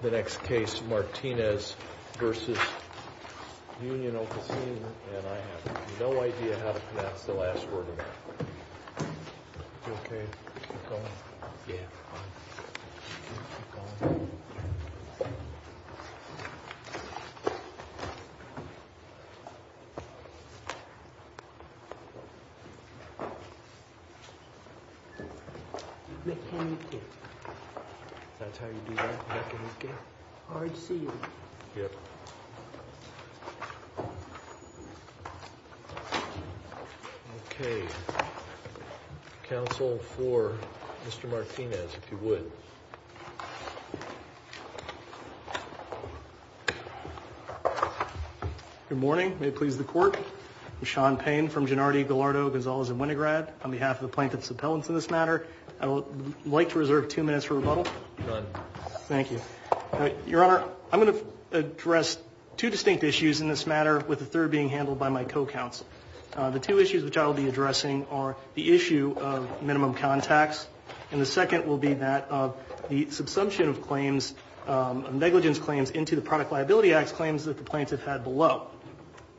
The next case, Martinez v. Union Officine, and I have no idea how to pronounce the last word of that. You okay? Keep going? Yeah, I'm fine. Keep going. Meccaniche. Meccaniche. That's how you do that? Meccaniche? R-E-C-U. Yep. Okay. Counsel for Mr. Martinez, if you would. Good morning. May it please the court. I'm Sean Payne from Gennardi, Gallardo, Gonzalez, and Winograd. On behalf of the plaintiff's appellants in this matter, I would like to reserve two minutes for rebuttal. Go ahead. Thank you. Your Honor, I'm going to address two distinct issues in this matter, with the third being handled by my co-counsel. The two issues which I will be addressing are the issue of minimum contacts, and the second will be that of the subsumption of claims, of negligence claims, into the Product Liability Act claims that the plaintiff had below.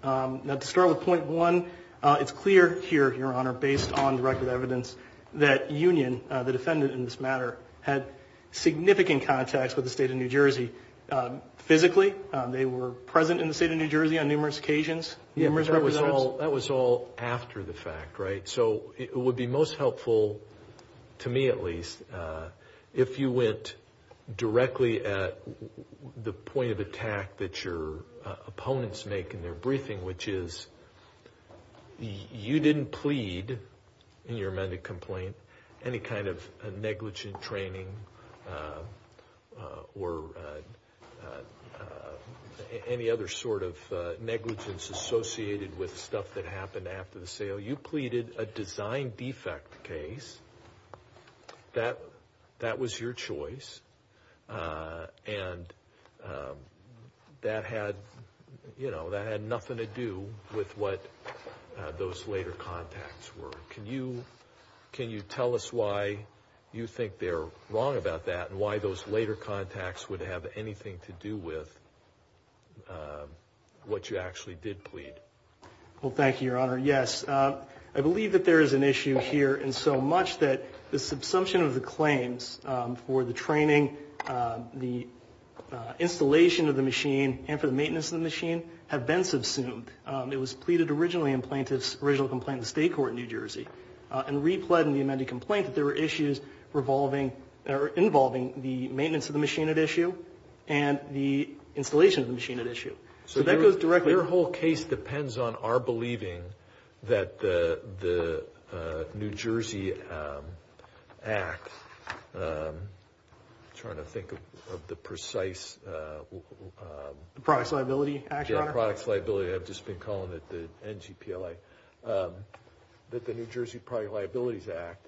Now, to start with point one, it's clear here, Your Honor, based on the record of evidence, that Union, the defendant in this matter, had significant contacts with the state of New Jersey. Physically, they were present in the state of New Jersey on numerous occasions. That was all after the fact, right? So it would be most helpful, to me at least, if you went directly at the point of attack that your opponents make in their briefing, which is you didn't plead in your amended complaint any kind of negligent training or any other sort of negligence associated with stuff that happened after the sale. So you pleaded a design defect case. That was your choice, and that had nothing to do with what those later contacts were. Can you tell us why you think they're wrong about that and why those later contacts would have anything to do with what you actually did plead? Well, thank you, Your Honor. Yes. I believe that there is an issue here in so much that the subsumption of the claims for the training, the installation of the machine, and for the maintenance of the machine have been subsumed. It was pleaded originally in plaintiff's original complaint in the state court in New Jersey and re-pled in the amended complaint that there were issues involving the maintenance of the machine at issue and the installation of the machine at issue. So that goes directly to- Your whole case depends on our believing that the New Jersey Act, I'm trying to think of the precise- The Products Liability Act, Your Honor. Yeah, Products Liability. I've just been calling it the NGPLA. That the New Jersey Product Liabilities Act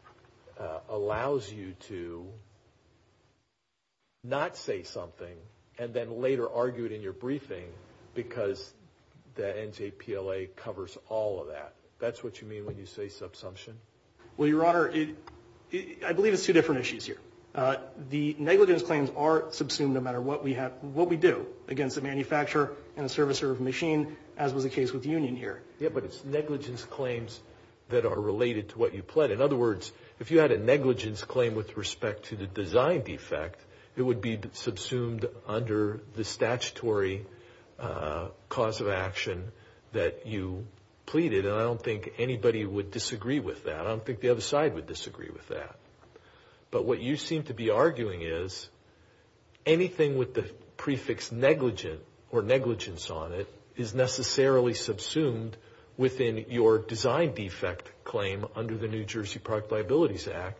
allows you to not say something and then later argue it in your briefing because the NGPLA covers all of that. That's what you mean when you say subsumption? Well, Your Honor, I believe it's two different issues here. The negligence claims are subsumed no matter what we do against a manufacturer and a servicer of a machine as was the case with Union here. Yeah, but it's negligence claims that are related to what you pled. In other words, if you had a negligence claim with respect to the design defect, it would be subsumed under the statutory cause of action that you pleaded, and I don't think anybody would disagree with that. I don't think the other side would disagree with that. But what you seem to be arguing is anything with the prefix negligent or negligence on it is necessarily subsumed within your design defect claim under the New Jersey Product Liabilities Act,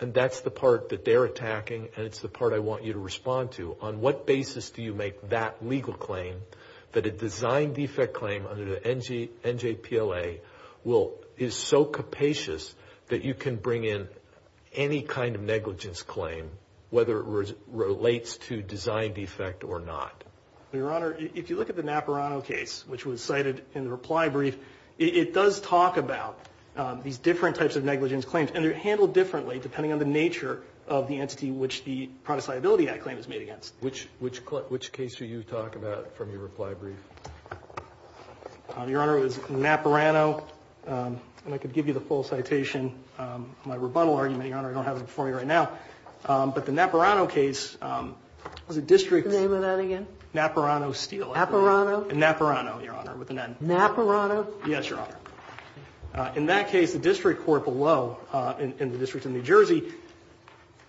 and that's the part that they're attacking and it's the part I want you to respond to. On what basis do you make that legal claim that a design defect claim under the NGPLA is so capacious that you can bring in any kind of negligence claim, whether it relates to design defect or not? Your Honor, if you look at the Napurano case, which was cited in the reply brief, it does talk about these different types of negligence claims, and they're handled differently depending on the nature of the entity which the Product Liability Act claim is made against. Which case do you talk about from your reply brief? Your Honor, it was Napurano. And I could give you the full citation of my rebuttal argument, Your Honor. I don't have it before me right now. But the Napurano case was a district. What's the name of that again? Napurano Steel. Napurano? Napurano, Your Honor, with an N. Napurano? Yes, Your Honor. In that case, the district court below in the District of New Jersey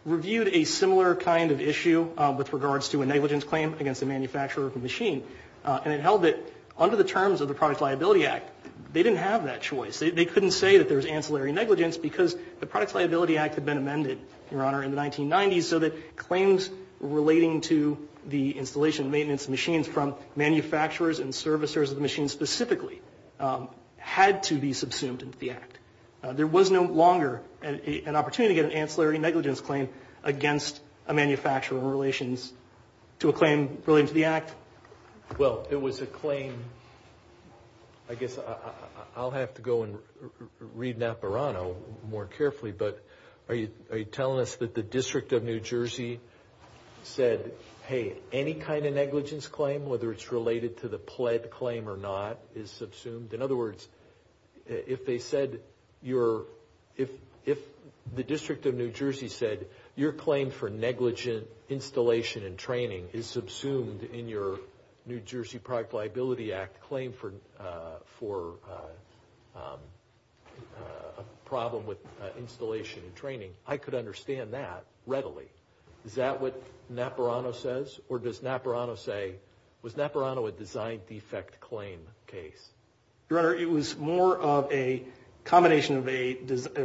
reviewed a similar kind of issue with regards to a negligence claim against a manufacturer of a machine. And it held that under the terms of the Product Liability Act, they didn't have that choice. They couldn't say that there was ancillary negligence because the Product Liability Act had been amended, Your Honor, in the 1990s so that claims relating to the installation and maintenance of machines from manufacturers and servicers of the machines specifically had to be subsumed into the Act. There was no longer an opportunity to get an ancillary negligence claim against a manufacturer in relation to a claim relating to the Act. Well, it was a claim. I guess I'll have to go and read Napurano more carefully. But are you telling us that the District of New Jersey said, hey, any kind of negligence claim, whether it's related to the pled claim or not, is subsumed? In other words, if they said your, if the District of New Jersey said your claim for negligent installation and training is subsumed in your New Jersey Product Liability Act claim for a problem with installation and training, I could understand that readily. Is that what Napurano says? Or does Napurano say, was Napurano a design defect claim case? Your Honor, it was more of a combination of a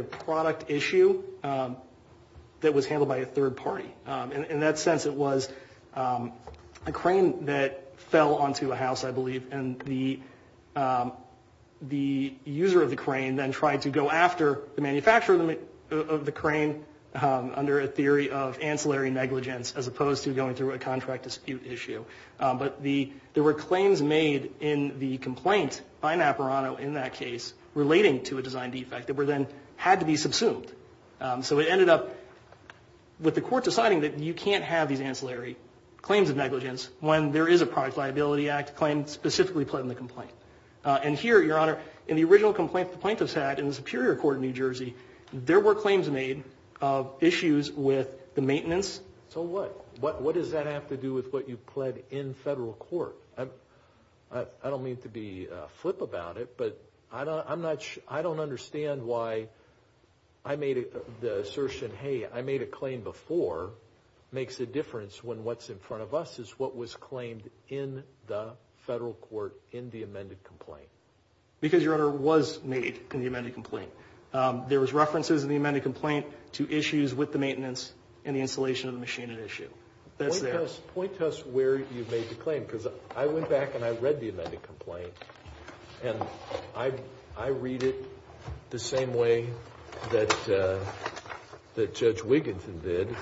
product issue that was handled by a third party. In that sense, it was a crane that fell onto a house, I believe, and the user of the crane then tried to go after the manufacturer of the crane under a theory of ancillary negligence as opposed to going through a contract dispute issue. But there were claims made in the complaint by Napurano in that case relating to a design defect that then had to be subsumed. So it ended up with the court deciding that you can't have these ancillary claims of negligence when there is a Product Liability Act claim specifically pled in the complaint. And here, Your Honor, in the original complaint the plaintiffs had in the Superior Court of New Jersey, there were claims made of issues with the maintenance. So what? What does that have to do with what you pled in federal court? I don't mean to be flip about it, but I don't understand why the assertion, hey, I made a claim before, makes a difference when what's in front of us is what was claimed in the federal court in the amended complaint. Because, Your Honor, it was made in the amended complaint. There was references in the amended complaint to issues with the maintenance and the installation of the machine at issue. Point to us where you made the claim, because I went back and I read the amended complaint and I read it the same way that Judge Wiginton did.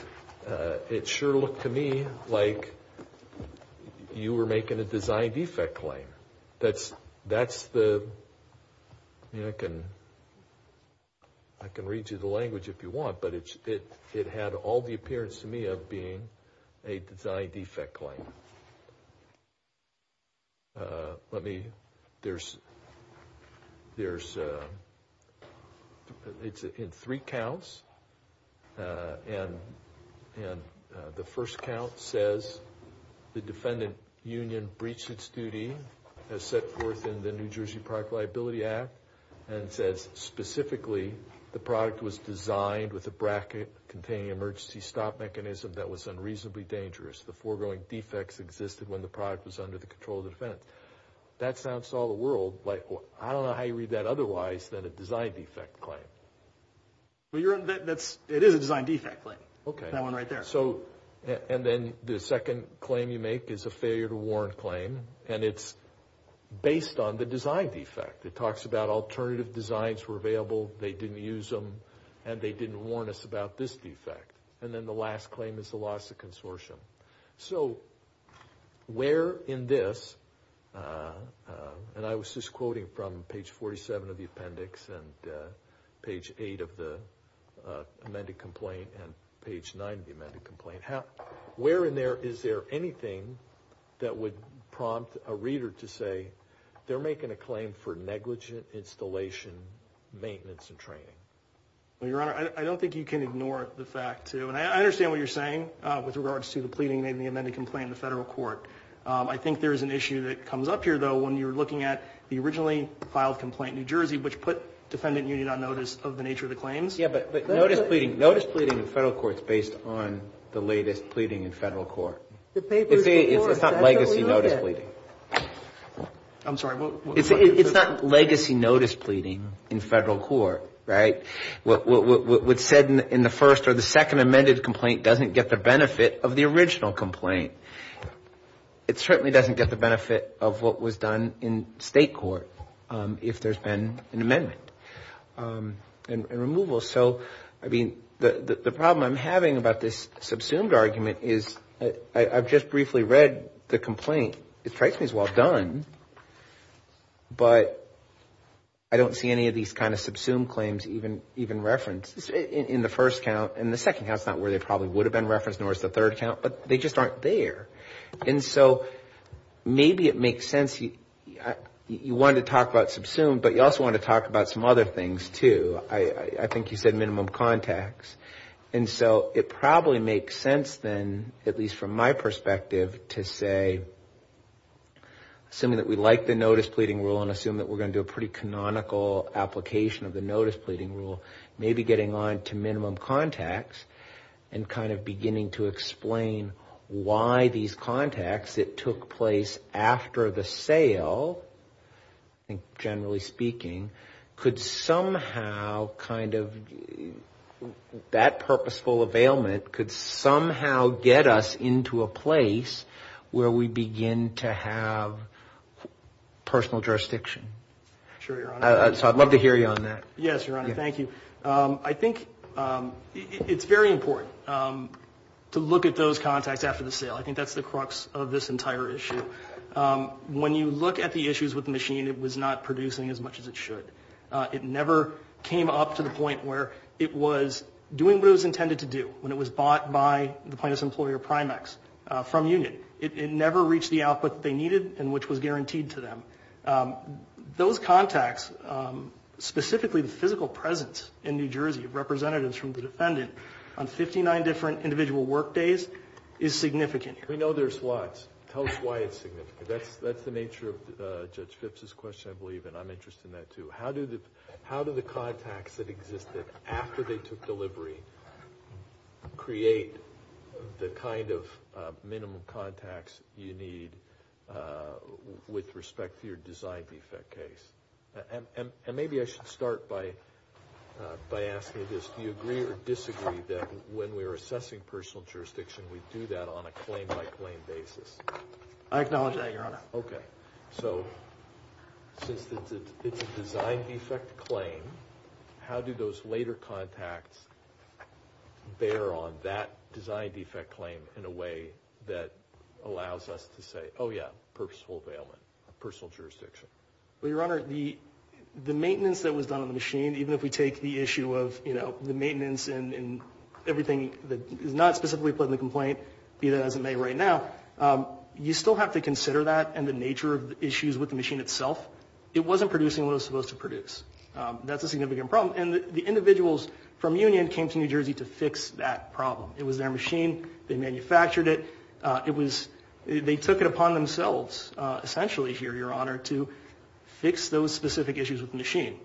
It sure looked to me like you were making a design defect claim. That's the, I can read you the language if you want, but it had all the appearance to me of being a design defect claim. Let me, there's, there's, it's in three counts, and the first count says the defendant union breached its duty as set forth in the New Jersey Product Liability Act, and says specifically the product was designed with a bracket containing emergency stop mechanism that was unreasonably dangerous. The foregoing defects existed when the product was under the control of the defendant. That sounds to all the world like, I don't know how you read that otherwise than a design defect claim. Well, Your Honor, that's, it is a design defect claim. Okay. That one right there. So, and then the second claim you make is a failure to warrant claim, and it's based on the design defect. It talks about alternative designs were available, they didn't use them, and they didn't warn us about this defect. And then the last claim is the loss of consortium. So, where in this, and I was just quoting from page 47 of the appendix, and page 8 of the amended complaint, and page 9 of the amended complaint, where in there is there anything that would prompt a reader to say, they're making a claim for negligent installation, maintenance, and training. Well, Your Honor, I don't think you can ignore the fact to, and I understand what you're saying with regards to the pleading in the amended complaint in the federal court. I think there's an issue that comes up here, though, when you're looking at the originally filed complaint in New Jersey, which put defendant union on notice of the nature of the claims. Yeah, but notice pleading, notice pleading in federal court is based on the latest pleading in federal court. It's not legacy notice pleading. I'm sorry. It's not legacy notice pleading in federal court, right? What's said in the first or the second amended complaint doesn't get the benefit of the original complaint. It certainly doesn't get the benefit of what was done in state court if there's been an amendment and removal. So, I mean, the problem I'm having about this subsumed argument is I've just briefly read the complaint. It strikes me as well done, but I don't see any of these kind of subsumed claims even referenced in the first count. In the second count, it's not where they probably would have been referenced, nor is the third count, but they just aren't there. And so maybe it makes sense. You want to talk about subsumed, but you also want to talk about some other things, too. I think you said minimum contacts, and so it probably makes sense then, at least from my perspective, to say, assuming that we like the notice pleading rule and assume that we're going to do a pretty canonical application of the notice pleading rule, maybe getting on to minimum contacts and kind of beginning to explain why these contacts that took place after the sale, generally speaking, could somehow kind of, that purposeful availment could somehow get us into a place where we begin to have personal jurisdiction. Sure, Your Honor. So I'd love to hear you on that. Yes, Your Honor. Thank you. I think it's very important to look at those contacts after the sale. I think that's the crux of this entire issue. When you look at the issues with the machine, it was not producing as much as it should. It never came up to the point where it was doing what it was intended to do when it was bought by the plaintiff's employer, Primex, from Union. It never reached the output that they needed and which was guaranteed to them. Those contacts, specifically the physical presence in New Jersey of representatives from the defendant on 59 different individual work days is significant here. We know there's lots. Tell us why it's significant. That's the nature of Judge Phipps' question, I believe, and I'm interested in that too. How do the contacts that existed after they took delivery create the kind of minimum contacts you need with respect to your design defect case? Maybe I should start by asking this. Do you agree or disagree that when we're assessing personal jurisdiction, we do that on a claim-by-claim basis? I acknowledge that, Your Honor. Okay. Since it's a design defect claim, how do those later contacts bear on that design defect claim in a way that allows us to say, oh yeah, purposeful availment of personal jurisdiction? Well, Your Honor, the maintenance that was done on the machine, even if we take the issue of, you know, the maintenance and everything that is not specifically put in the complaint, be that as it may right now, you still have to consider that and the nature of the issues with the machine itself. It wasn't producing what it was supposed to produce. That's a significant problem. And the individuals from Union came to New Jersey to fix that problem. It was their machine. They manufactured it. They took it upon themselves, essentially here, Your Honor, to fix those specific issues with the machine.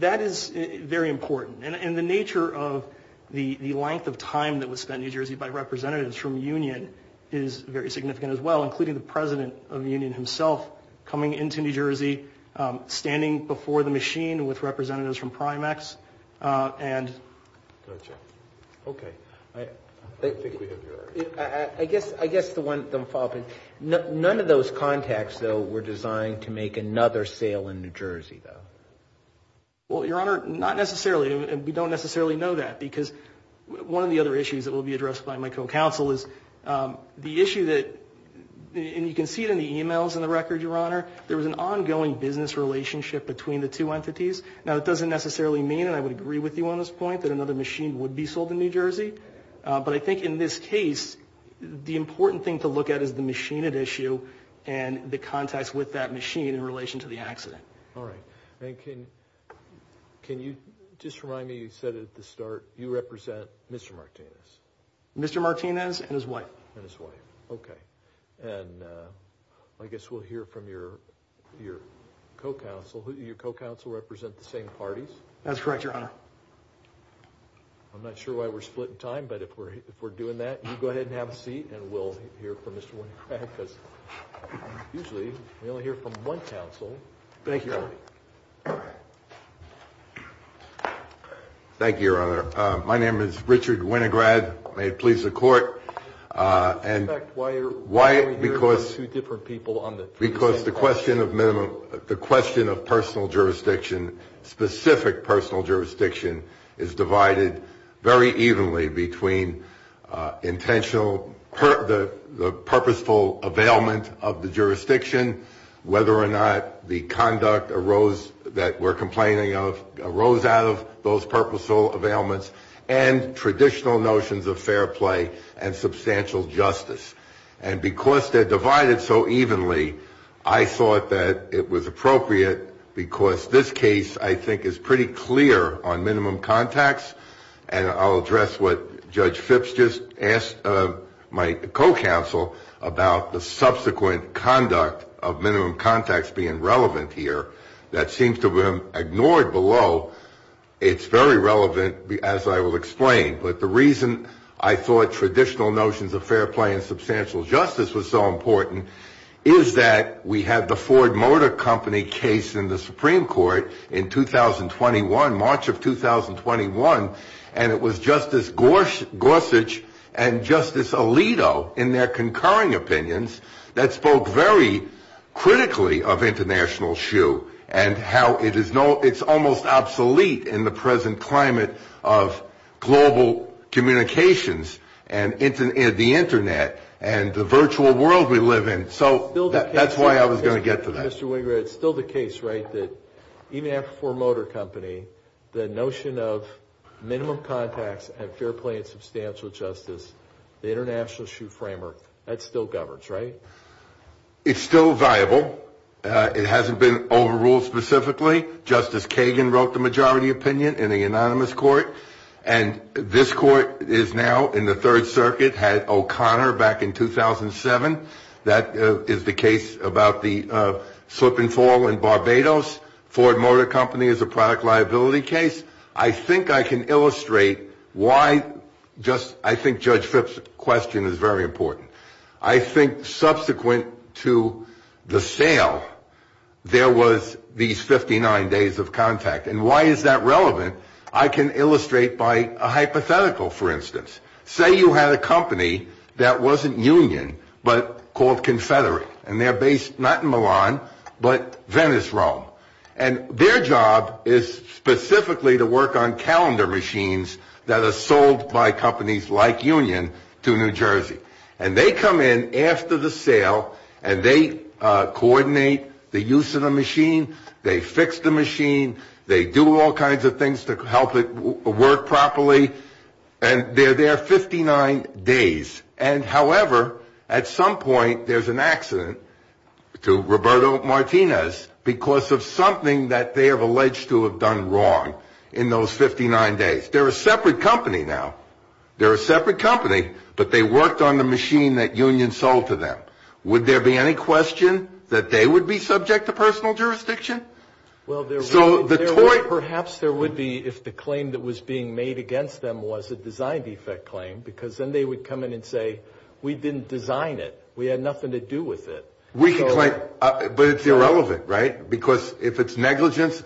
That is very important. And the nature of the length of time that was spent in New Jersey by representatives from Union is very significant as well, including the President of the Union himself coming into New Jersey, standing before the machine with representatives from Primex. Gotcha. Okay. I think we have your answer. I guess the one follow-up. None of those contacts, though, were designed to make another sale in New Jersey, though. Well, Your Honor, not necessarily. We don't necessarily know that because one of the other issues that will be addressed by my co-counsel is the issue that, and you can see it in the e-mails and the record, Your Honor, there was an ongoing business relationship between the two entities. Now, it doesn't necessarily mean, and I would agree with you on this point, that another machine would be sold in New Jersey. But I think in this case, the important thing to look at is the machined issue and the contacts with that machine in relation to the accident. All right. And can you just remind me, you said at the start, you represent Mr. Martinez. Mr. Martinez and his wife. And his wife. Okay. And I guess we'll hear from your co-counsel. Your co-counsel represent the same parties? That's correct, Your Honor. I'm not sure why we're split in time, but if we're doing that, you go ahead and have a seat, and we'll hear from Mr. Winograd because usually we only hear from one counsel. Thank you, Your Honor. Thank you, Your Honor. My name is Richard Winograd. May it please the Court. Why are we hearing from two different people on the three-second limit? Because the question of personal jurisdiction, specific personal jurisdiction, is divided very evenly between the purposeful availment of the jurisdiction, whether or not the conduct that we're complaining of arose out of those purposeful availments, and traditional notions of fair play and substantial justice. And because they're divided so evenly, I thought that it was appropriate because this case, I think, is pretty clear on minimum contacts, and I'll address what Judge Phipps just asked my co-counsel about the subsequent conduct of minimum contacts being relevant here that seems to have been ignored below. It's very relevant, as I will explain, but the reason I thought traditional notions of fair play and substantial justice was so important is that we had the Ford Motor Company case in the Supreme Court in 2021, March of 2021, and it was Justice Gorsuch and Justice Alito in their concurring opinions that spoke very critically of international SHU and how it's almost obsolete in the present climate of global communications and the Internet and the virtual world we live in. So that's why I was going to get to that. Mr. Winger, it's still the case, right, that even after Ford Motor Company, the notion of minimum contacts and fair play and substantial justice, the international SHU framework, that still governs, right? It's still viable. It hasn't been overruled specifically. Justice Kagan wrote the majority opinion in the anonymous court, and this court is now in the Third Circuit, had O'Connor back in 2007. That is the case about the slip and fall in Barbados. Ford Motor Company is a product liability case. I think I can illustrate why just I think Judge Fripp's question is very important. I think subsequent to the sale, there was these 59 days of contact. And why is that relevant? I can illustrate by a hypothetical, for instance. Say you had a company that wasn't union but called Confederate, and they're based not in Milan but Venice, Rome. And their job is specifically to work on calendar machines that are sold by companies like Union to New Jersey. And they come in after the sale, and they coordinate the use of the machine. They fix the machine. They do all kinds of things to help it work properly. And they're there 59 days. And, however, at some point, there's an accident to Roberto Martinez because of something that they have alleged to have done wrong in those 59 days. They're a separate company now. They're a separate company, but they worked on the machine that Union sold to them. Would there be any question that they would be subject to personal jurisdiction? Well, perhaps there would be if the claim that was being made against them was a design defect claim because then they would come in and say, we didn't design it. We had nothing to do with it. But it's irrelevant, right? Because if it's negligence,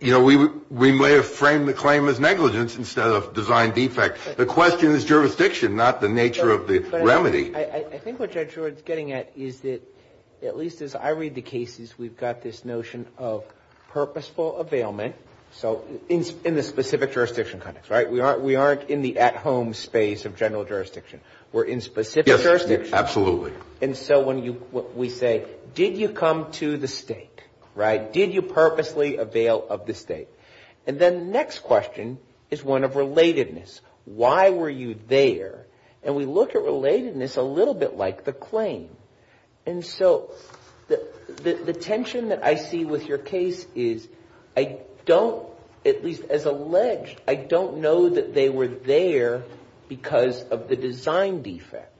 you know, we may have framed the claim as negligence instead of design defect. The question is jurisdiction, not the nature of the remedy. I think what Judge Howard is getting at is that at least as I read the cases, we've got this notion of purposeful availment in the specific jurisdiction context, right? We aren't in the at-home space of general jurisdiction. We're in specific jurisdiction. Absolutely. And so when we say, did you come to the state, right? Did you purposely avail of the state? And then the next question is one of relatedness. Why were you there? And we look at relatedness a little bit like the claim. And so the tension that I see with your case is I don't, at least as alleged, I don't know that they were there because of the design defect.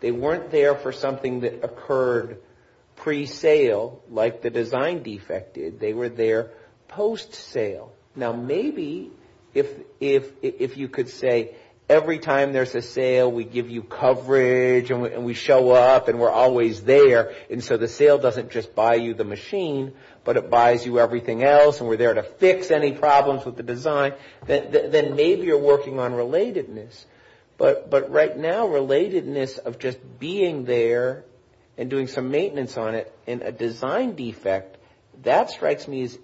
They weren't there for something that occurred pre-sale like the design defect did. They were there post-sale. Now, maybe if you could say every time there's a sale, we give you coverage and we show up and we're always there, and so the sale doesn't just buy you the machine, but it buys you everything else and we're there to fix any problems with the design, then maybe you're working on relatedness. But right now, relatedness of just being there and doing some maintenance on it and a design defect, that strikes me as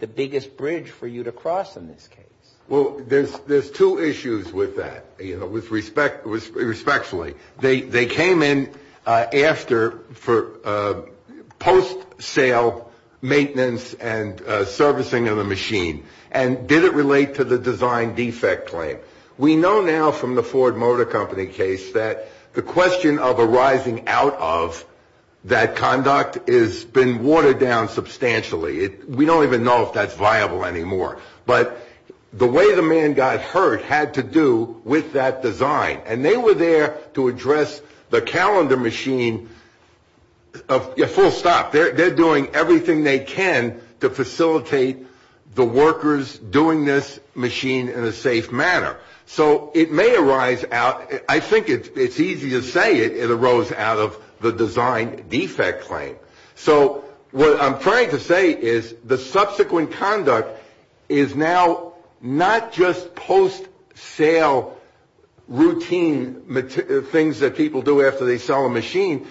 the biggest bridge for you to cross in this case. Well, there's two issues with that, you know, respectfully. They came in after for post-sale maintenance and servicing of the machine. And did it relate to the design defect claim? We know now from the Ford Motor Company case that the question of arising out of that conduct has been watered down substantially. We don't even know if that's viable anymore. But the way the man got hurt had to do with that design. And they were there to address the calendar machine full stop. They're doing everything they can to facilitate the workers doing this machine in a safe manner. So it may arise out. I think it's easy to say it arose out of the design defect claim. So what I'm trying to say is the subsequent conduct is now not just post-sale routine things that people do after they sell a machine.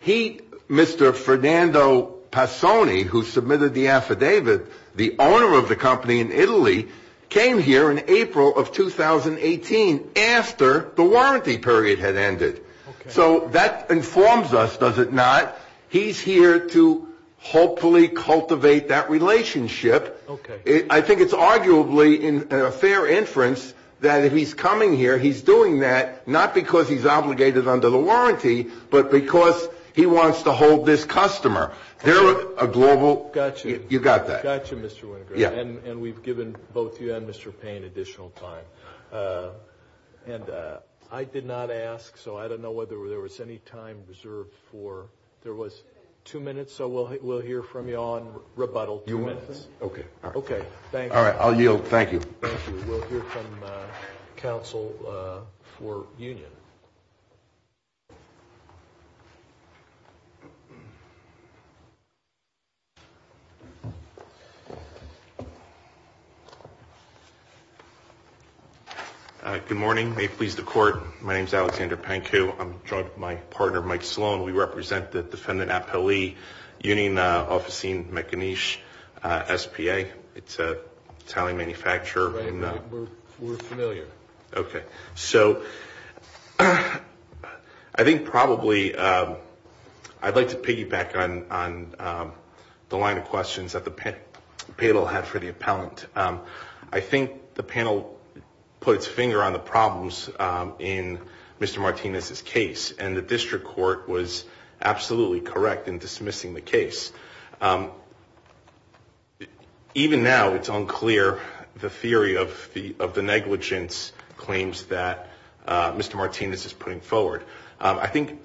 He, Mr. Fernando Passoni, who submitted the affidavit, the owner of the company in Italy, came here in April of 2018 after the warranty period had ended. So that informs us, does it not? He's here to hopefully cultivate that relationship. Okay. I think it's arguably a fair inference that he's coming here, he's doing that, not because he's obligated under the warranty, but because he wants to hold this customer. They're a global... Gotcha. You got that. Gotcha, Mr. Winograd. Yeah. And we've given both you and Mr. Payne additional time. And I did not ask, so I don't know whether there was any time reserved for... There was two minutes, so we'll hear from you on rebuttal. Two minutes? Okay. Okay. All right. I'll yield. Thank you. Thank you. We'll hear from counsel for union. Good morning. May it please the Court. My name is Alexander Pankow. I'm joined by my partner, Mike Sloan. We represent the defendant appellee, Union Officine Mechaniche S.P.A. It's an Italian manufacturer. Right. We're familiar. Okay. So I think probably I'd like to piggyback on the line of questions that the panel had for the appellant. I think the panel put its finger on the problems in Mr. Martinez's case, and the district court was absolutely correct in dismissing the case. Even now, it's unclear the theory of the negligence claims that Mr. Martinez is putting forward. I think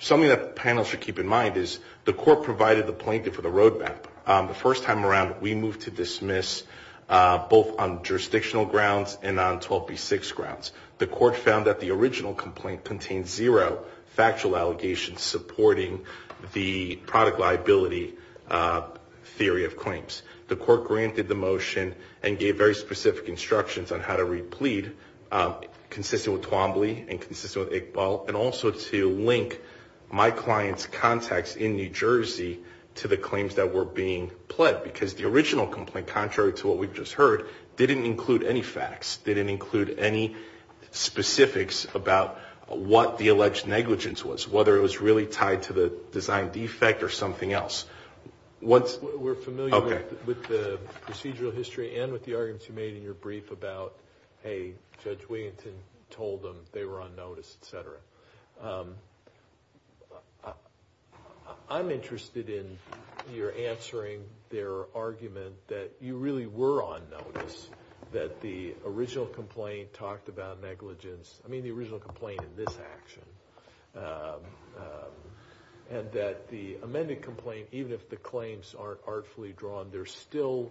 something that the panel should keep in mind is the court provided the plaintiff with a road map. The first time around, we moved to dismiss both on jurisdictional grounds and on 12B6 grounds. The court found that the original complaint contained zero factual allegations supporting the product liability theory of claims. The court granted the motion and gave very specific instructions on how to replead, consistent with Twombly and consistent with Iqbal, and also to link my client's contacts in New Jersey to the claims that were being pled, because the original complaint, contrary to what we've just heard, didn't include any facts, didn't include any specifics about what the alleged negligence was, whether it was really tied to the design defect or something else. We're familiar with the procedural history and with the arguments you made in your brief about, hey, Judge Williamson told them they were on notice, et cetera. I'm interested in your answering their argument that you really were on notice, that the original complaint talked about negligence, I mean the original complaint in this action, and that the amended complaint, even if the claims aren't artfully drawn, there's still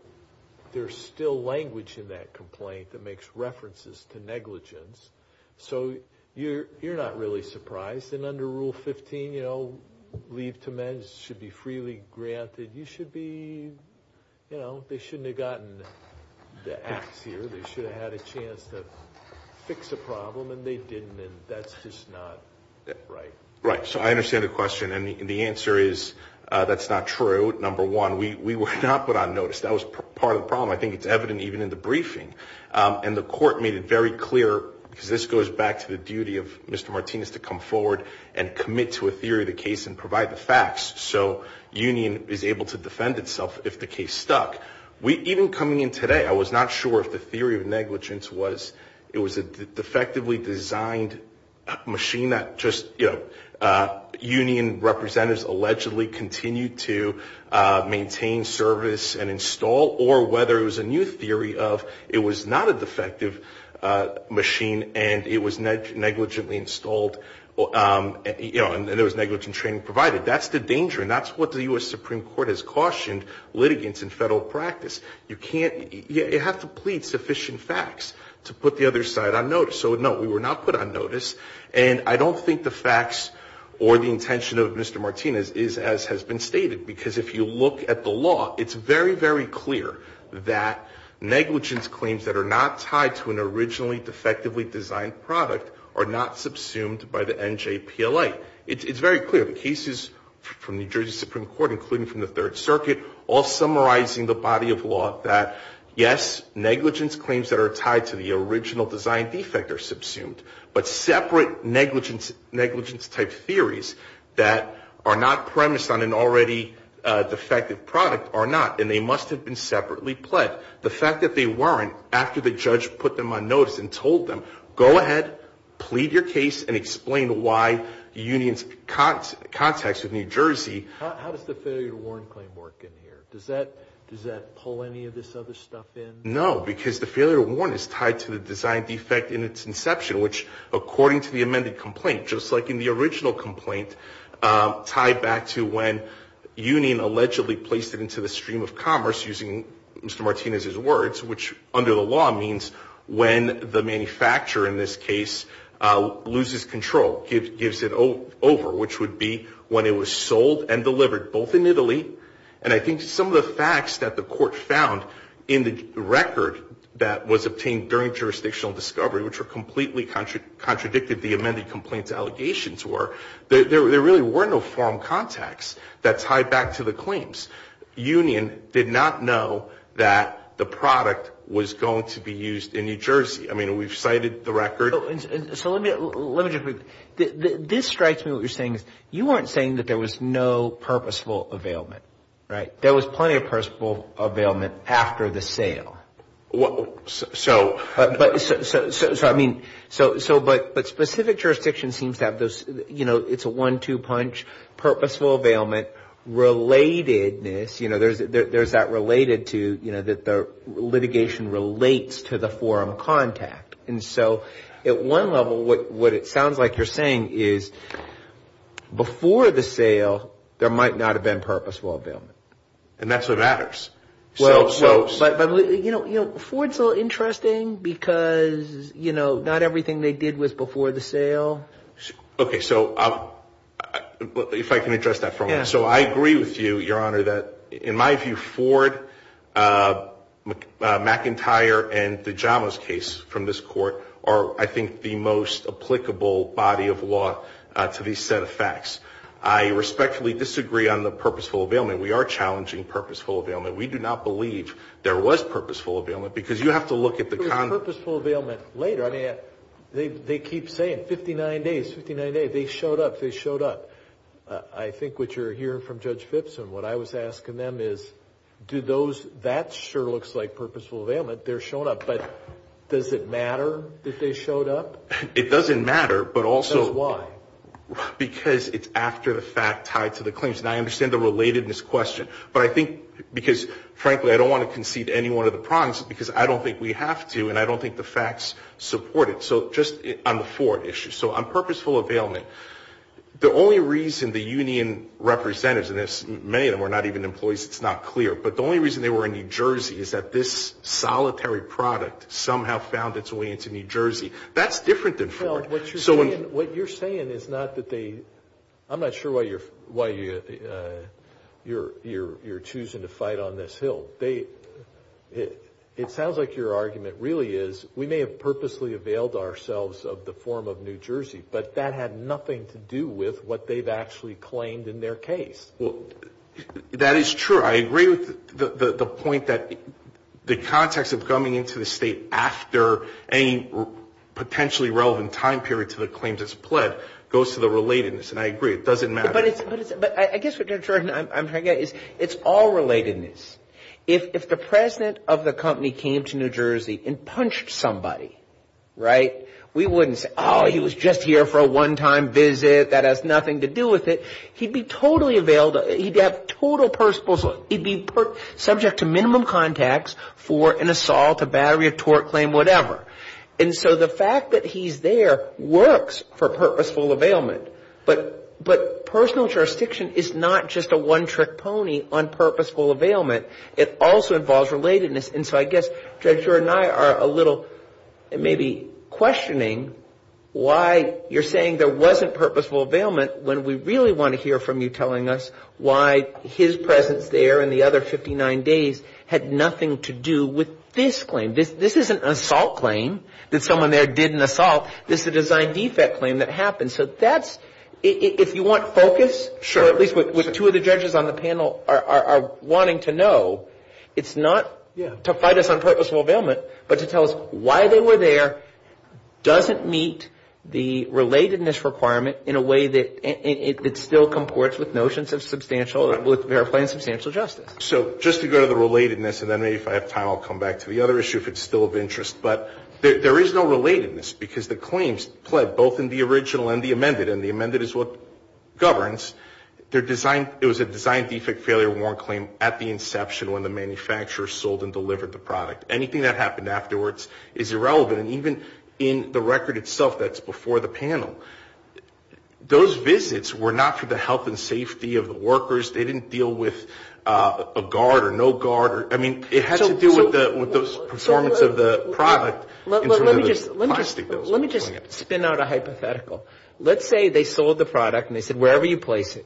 language in that complaint that makes references to negligence. So you're not really surprised, and under Rule 15, leave to men should be freely granted. You should be, you know, they shouldn't have gotten the ax here. They should have had a chance to fix a problem, and they didn't, and that's just not right. Right, so I understand the question, and the answer is that's not true, number one. We were not put on notice. That was part of the problem. I think it's evident even in the briefing, and the court made it very clear, because this goes back to the duty of Mr. Martinez to come forward and commit to a theory of the case and provide the facts so union is able to defend itself if the case stuck. Even coming in today, I was not sure if the theory of negligence was, it was a defectively designed machine that just, you know, union representatives allegedly continued to maintain, service, and install, or whether it was a new theory of it was not a defective machine, and it was negligently installed, you know, and there was negligent training provided. That's the danger, and that's what the U.S. Supreme Court has cautioned litigants in federal practice. You can't, you have to plead sufficient facts to put the other side on notice. So, no, we were not put on notice, and I don't think the facts or the intention of Mr. Martinez is as has been stated, because if you look at the law, it's very, very clear that negligence claims that are not tied to an originally defectively designed product are not subsumed by the NJPLA. It's very clear. The cases from New Jersey Supreme Court, including from the Third Circuit, all summarizing the body of law that, yes, negligence claims that are tied to the original design defect are subsumed, but separate negligence-type theories that are not premised on an already defective product are not, and they must have been separately pled. The fact that they weren't, after the judge put them on notice and told them, go ahead, plead your case, and explain why the union's contacts with New Jersey. How does the failure to warn claim work in here? Does that pull any of this other stuff in? No, because the failure to warn is tied to the design defect in its inception, which according to the amended complaint, just like in the original complaint, tied back to when union allegedly placed it into the stream of commerce using Mr. Martinez's words, which under the law means when the manufacturer in this case loses control, gives it over, which would be when it was sold and delivered, both in Italy, and I think some of the facts that the court found in the record that was obtained during jurisdictional discovery, which completely contradicted the amended complaint's allegations were, there really were no foreign contacts that tied back to the claims. Union did not know that the product was going to be used in New Jersey. I mean, we've cited the record. So let me just, this strikes me, what you're saying is, you weren't saying that there was no purposeful availment, right? There was plenty of purposeful availment after the sale. So. But specific jurisdiction seems to have those, you know, it's a one-two punch, purposeful availment, relatedness, you know, there's that related to, you know, that the litigation relates to the foreign contact. And so at one level, what it sounds like you're saying is, before the sale, there might not have been purposeful availment. And that's what matters. Well, but, you know, Ford's a little interesting because, you know, not everything they did was before the sale. Okay. So I agree with you, Your Honor, that in my view, Ford, McIntyre, and the Jamos case from this court are, I think, the most applicable body of law to these set of facts. I respectfully disagree on the purposeful availment. We are challenging purposeful availment. We do not believe there was purposeful availment because you have to look at the conduct. There was purposeful availment later. I mean, they keep saying 59 days, 59 days. They showed up. They showed up. I think what you're hearing from Judge Phipps and what I was asking them is, do those, that sure looks like purposeful availment. They're showing up. But does it matter that they showed up? It doesn't matter, but also. Why? Because it's after the fact tied to the claims. And I understand the relatedness question. But I think because, frankly, I don't want to concede any one of the prongs because I don't think we have to, and I don't think the facts support it. So just on the Ford issue. So on purposeful availment, the only reason the union representatives, and many of them are not even employees, it's not clear. But the only reason they were in New Jersey is that this solitary product somehow found its way into New Jersey. That's different than Ford. What you're saying is not that they, I'm not sure why you're choosing to fight on this hill. It sounds like your argument really is we may have purposely availed ourselves of the form of New Jersey, but that had nothing to do with what they've actually claimed in their case. Well, that is true. I agree with the point that the context of coming into the state after any potentially relevant time period to the claims that's pled goes to the relatedness, and I agree. It doesn't matter. But I guess what I'm trying to get at is it's all relatedness. If the president of the company came to New Jersey and punched somebody, right, we wouldn't say, oh, he was just here for a one-time visit, that has nothing to do with it. He'd be totally availed, he'd be subject to minimum contacts for an assault, a battery, a tort claim, whatever. And so the fact that he's there works for purposeful availment. But personal jurisdiction is not just a one-trick pony on purposeful availment. It also involves relatedness. And so I guess Judge Brewer and I are a little maybe questioning why you're saying there wasn't purposeful availment when we really want to hear from you telling us why his presence there in the other 59 days had nothing to do with this claim. This isn't an assault claim that someone there did an assault. This is a design defect claim that happened. And so that's, if you want focus, or at least what two of the judges on the panel are wanting to know, it's not to fight us on purposeful availment, but to tell us why they were there, doesn't meet the relatedness requirement in a way that still comports with notions of substantial, with verifying substantial justice. So just to go to the relatedness, and then maybe if I have time I'll come back to the other issue if it's still of interest, but there is no relatedness because the claims pled both in the original and the amended, and the amended is what governs. It was a design defect failure warrant claim at the inception when the manufacturer sold and delivered the product. Anything that happened afterwards is irrelevant, and even in the record itself that's before the panel, those visits were not for the health and safety of the workers. They didn't deal with a guard or no guard. I mean, it had to do with the performance of the product. Let me just spin out a hypothetical. Let's say they sold the product and they said, wherever you place it,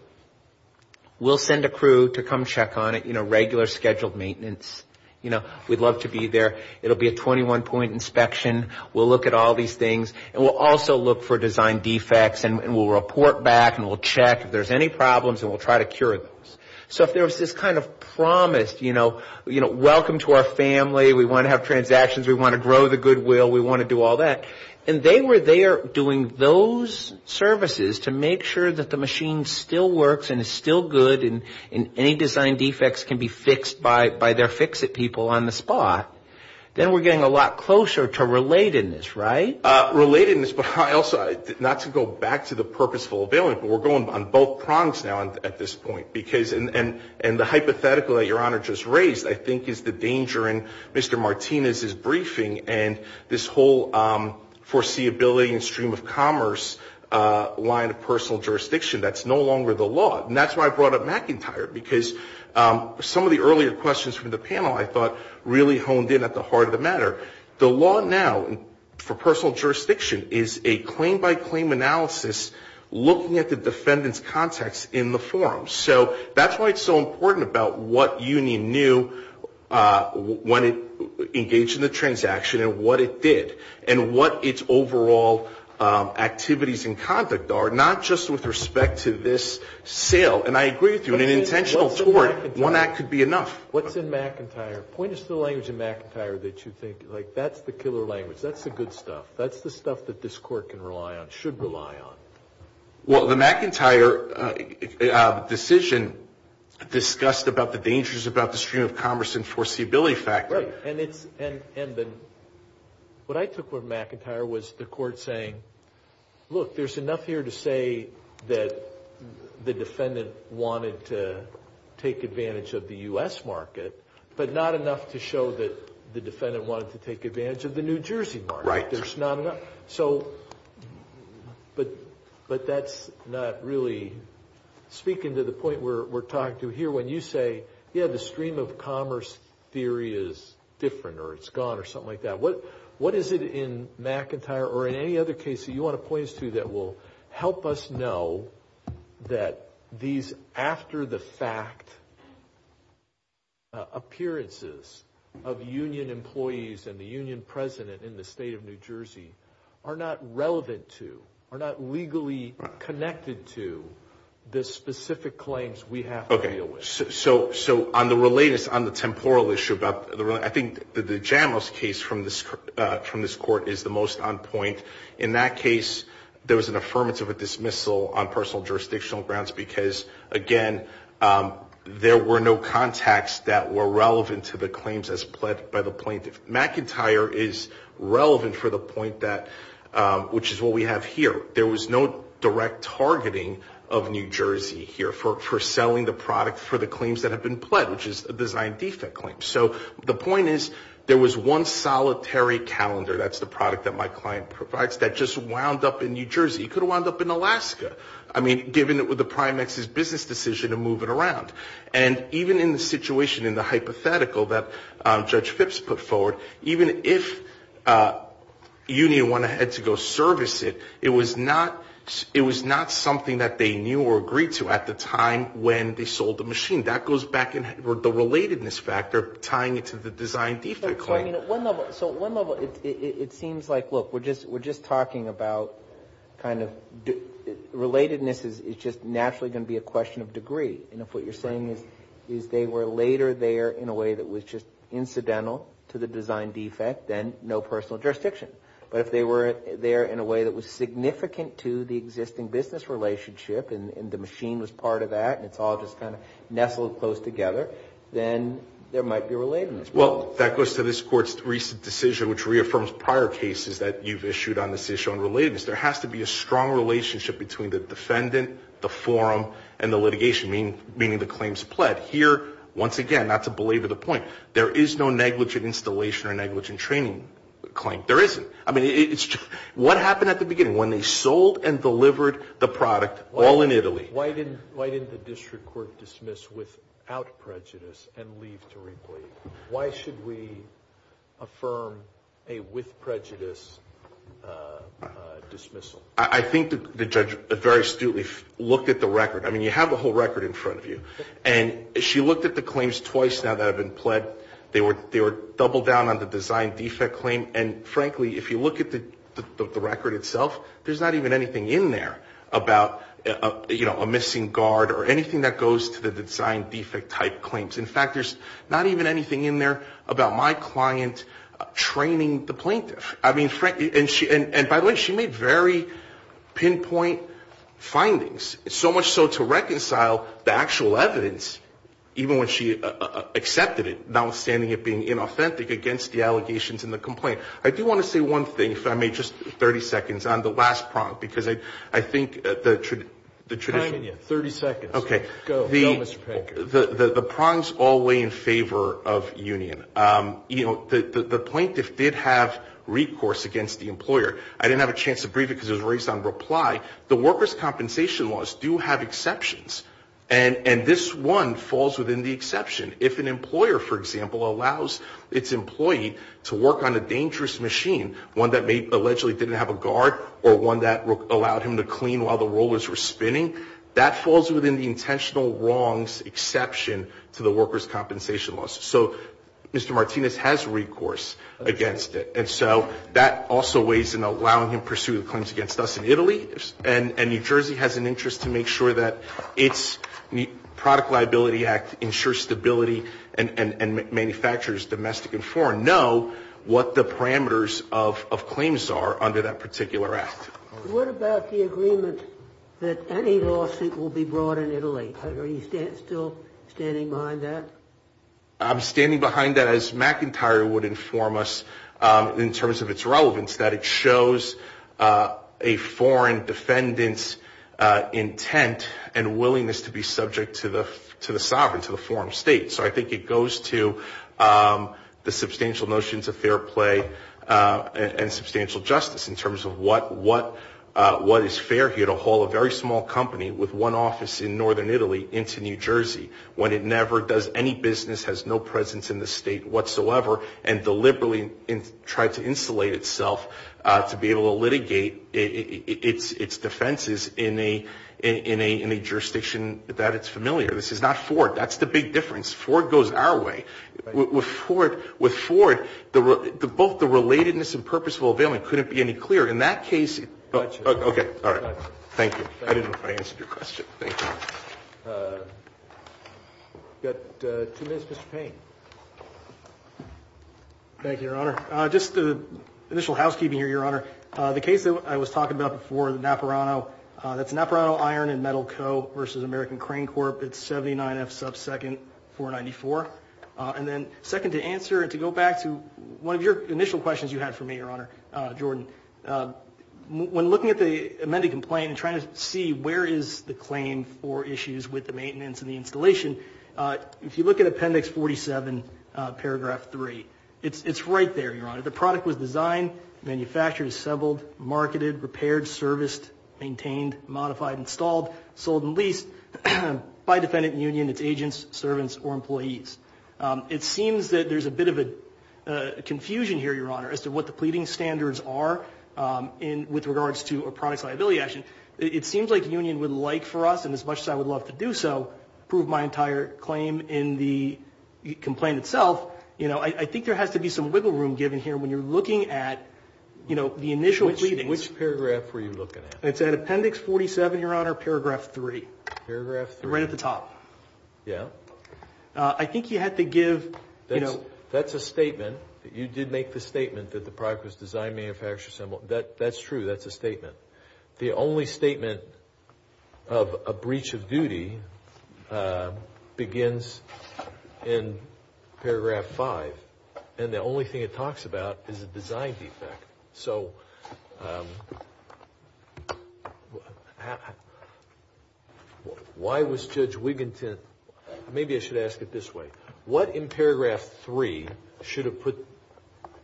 we'll send a crew to come check on it, you know, regular scheduled maintenance. You know, we'd love to be there. It'll be a 21-point inspection. We'll look at all these things, and we'll also look for design defects, and we'll report back, and we'll check if there's any problems, and we'll try to cure those. So if there was this kind of promise, you know, welcome to our family, we want to have transactions, we want to grow the goodwill, we want to do all that, and they were there doing those services to make sure that the machine still works and is still good and any design defects can be fixed by their fix-it people on the spot, then we're getting a lot closer to relatedness, right? Relatedness, but I also, not to go back to the purposeful availability, but we're going on both prongs now at this point, and the hypothetical that Your Honor just raised I think is the danger in Mr. Martinez's briefing and this whole foreseeability and stream of commerce line of personal jurisdiction. That's no longer the law, and that's why I brought up McIntyre, because some of the earlier questions from the panel, I thought, really honed in at the heart of the matter. The law now for personal jurisdiction is a claim-by-claim analysis looking at the defendant's contacts in the forum. So that's why it's so important about what union knew when it engaged in the transaction and what it did and what its overall activities and conduct are, not just with respect to this sale. And I agree with you, in an intentional toward, one act could be enough. What's in McIntyre? Point us to the language in McIntyre that you think, like, that's the killer language. That's the good stuff. That's the stuff that this Court can rely on, should rely on. Well, the McIntyre decision discussed about the dangers about the stream of commerce and foreseeability factor. Right, and then what I took from McIntyre was the Court saying, look, there's enough here to say that the defendant wanted to take advantage of the U.S. market, but not enough to show that the defendant wanted to take advantage of the New Jersey market. Right. There's not enough. So, but that's not really speaking to the point we're talking to here when you say, yeah, the stream of commerce theory is different or it's gone or something like that. What is it in McIntyre or in any other case that you want to point us to that will help us know that these after-the-fact appearances of union employees and the union president in the state of New Jersey are not relevant to, are not legally connected to, the specific claims we have to deal with? So on the related, on the temporal issue, I think the Jamos case from this Court is the most on point. In that case, there was an affirmative dismissal on personal jurisdictional grounds because, again, there were no contacts that were relevant to the claims as pled by the plaintiff. McIntyre is relevant for the point that, which is what we have here. There was no direct targeting of New Jersey here for selling the product for the claims that have been pled, which is a design defect claim. So the point is there was one solitary calendar, that's the product that my client provides, that just wound up in New Jersey. It could have wound up in Alaska. I mean, given it was the Prime Minister's business decision to move it around. And even in the situation in the hypothetical that Judge Phipps put forward, even if Union went ahead to go service it, it was not something that they knew or agreed to at the time when they sold the machine. That goes back to the relatedness factor tying it to the design defect claim. So at one level, it seems like, look, we're just talking about kind of, relatedness is just naturally going to be a question of degree. And if what you're saying is they were later there in a way that was just incidental to the design defect, then no personal jurisdiction. But if they were there in a way that was significant to the existing business relationship and the machine was part of that and it's all just kind of nestled close together, then there might be relatedness. Well, that goes to this Court's recent decision, which reaffirms prior cases that you've issued on this issue on relatedness. There has to be a strong relationship between the defendant, the forum, and the litigation, meaning the claims pled. Here, once again, not to belabor the point, there is no negligent installation or negligent training claim. There isn't. I mean, what happened at the beginning when they sold and delivered the product all in Italy? Why should we affirm a with prejudice dismissal? I think the judge very astutely looked at the record. I mean, you have the whole record in front of you. And she looked at the claims twice now that have been pled. They were doubled down on the design defect claim. And frankly, if you look at the record itself, there's not even anything in there about, you know, a missing guard or anything that goes to the design defect type claims. In fact, there's not even anything in there about my client training the plaintiff. I mean, and by the way, she made very pinpoint findings, so much so to reconcile the actual evidence, even when she accepted it, notwithstanding it being inauthentic against the allegations in the complaint. I do want to say one thing, if I may, just 30 seconds on the last prong, because I think the tradition. 30 seconds. Okay. Go, Mr. Pinker. The prongs all weigh in favor of union. You know, the plaintiff did have recourse against the employer. I didn't have a chance to brief it because it was raised on reply. The workers' compensation laws do have exceptions, and this one falls within the exception. If an employer, for example, allows its employee to work on a dangerous machine, one that allegedly didn't have a guard or one that allowed him to clean while the rollers were spinning, that falls within the intentional wrongs exception to the workers' compensation laws. So Mr. Martinez has recourse against it. And so that also weighs in allowing him to pursue the claims against us in Italy, and New Jersey has an interest to make sure that its Product Liability Act ensures stability and manufacturers, domestic and foreign, know what the parameters of claims are under that particular act. What about the agreement that any lawsuit will be brought in Italy? Are you still standing behind that? I'm standing behind that as McIntyre would inform us in terms of its relevance, that it shows a foreign defendant's intent and willingness to be subject to the sovereign, to the foreign state. So I think it goes to the substantial notions of fair play and substantial justice in terms of what is fair here to haul a very small company with one office in northern Italy into New Jersey when it never does any business, has no presence in the state whatsoever, and deliberately tried to insulate itself to be able to litigate its defenses in a jurisdiction that it's familiar. This is not Ford. That's the big difference. Ford goes our way. With Ford, both the relatedness and purposeful availment couldn't be any clearer. In that case, okay. All right. Thank you. I didn't know if I answered your question. Thank you. We've got two minutes. Mr. Payne. Thank you, Your Honor. Just initial housekeeping here, Your Honor. The case that I was talking about before, the Napurano, that's Napurano Iron and Metal Co. versus American Crane Corp. It's 79F sub second 494. And then second to answer and to go back to one of your initial questions you had for me, Your Honor, Jordan, when looking at the amended complaint and trying to see where is the claim for issues with the maintenance and the installation, if you look at Appendix 47, Paragraph 3, it's right there, Your Honor. The product was designed, manufactured, assembled, marketed, repaired, serviced, maintained, modified, installed, sold, and leased by defendant union, its agents, servants, or employees. It seems that there's a bit of a confusion here, Your Honor, as to what the pleading standards are with regards to a product's liability action. It seems like the union would like for us, and as much as I would love to do so, prove my entire claim in the complaint itself. I think there has to be some wiggle room given here when you're looking at the initial pleadings. Which paragraph were you looking at? It's at Appendix 47, Your Honor, Paragraph 3. Paragraph 3. Right at the top. Yeah. I think you had to give, you know. That's a statement. You did make the statement that the product was designed, manufactured, assembled. That's true. That's a statement. The only statement of a breach of duty begins in Paragraph 5. And the only thing it talks about is a design defect. So, why was Judge Wiginton, maybe I should ask it this way. What in Paragraph 3 should have put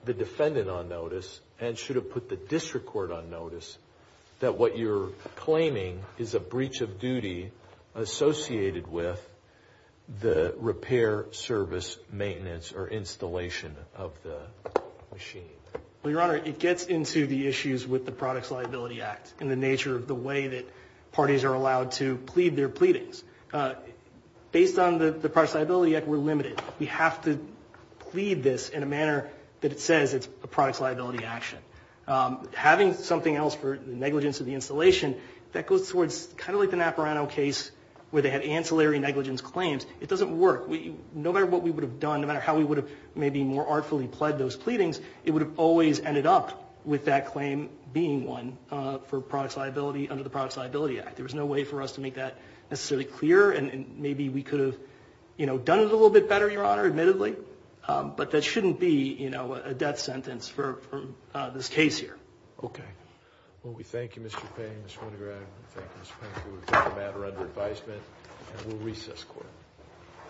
the defendant on notice and should have put the district court on notice that what you're claiming is a breach of duty associated with the repair, service, maintenance, or installation of the machine? Well, Your Honor, it gets into the issues with the Products Liability Act and the nature of the way that parties are allowed to plead their pleadings. Based on the Products Liability Act, we're limited. We have to plead this in a manner that it says it's a products liability action. Having something else for the negligence of the installation, that goes towards kind of like the Naparano case where they had ancillary negligence claims. It doesn't work. No matter what we would have done, no matter how we would have maybe more artfully pled those pleadings, it would have always ended up with that claim being one for products liability under the Products Liability Act. There was no way for us to make that necessarily clear and maybe we could have done it a little bit better, Your Honor, admittedly. But that shouldn't be a death sentence for this case here. Okay. Well, we thank you, Mr. Payne, Mr. Winograd. We thank you, Mr. Payne. We'll take the matter under advisement and we'll recess court.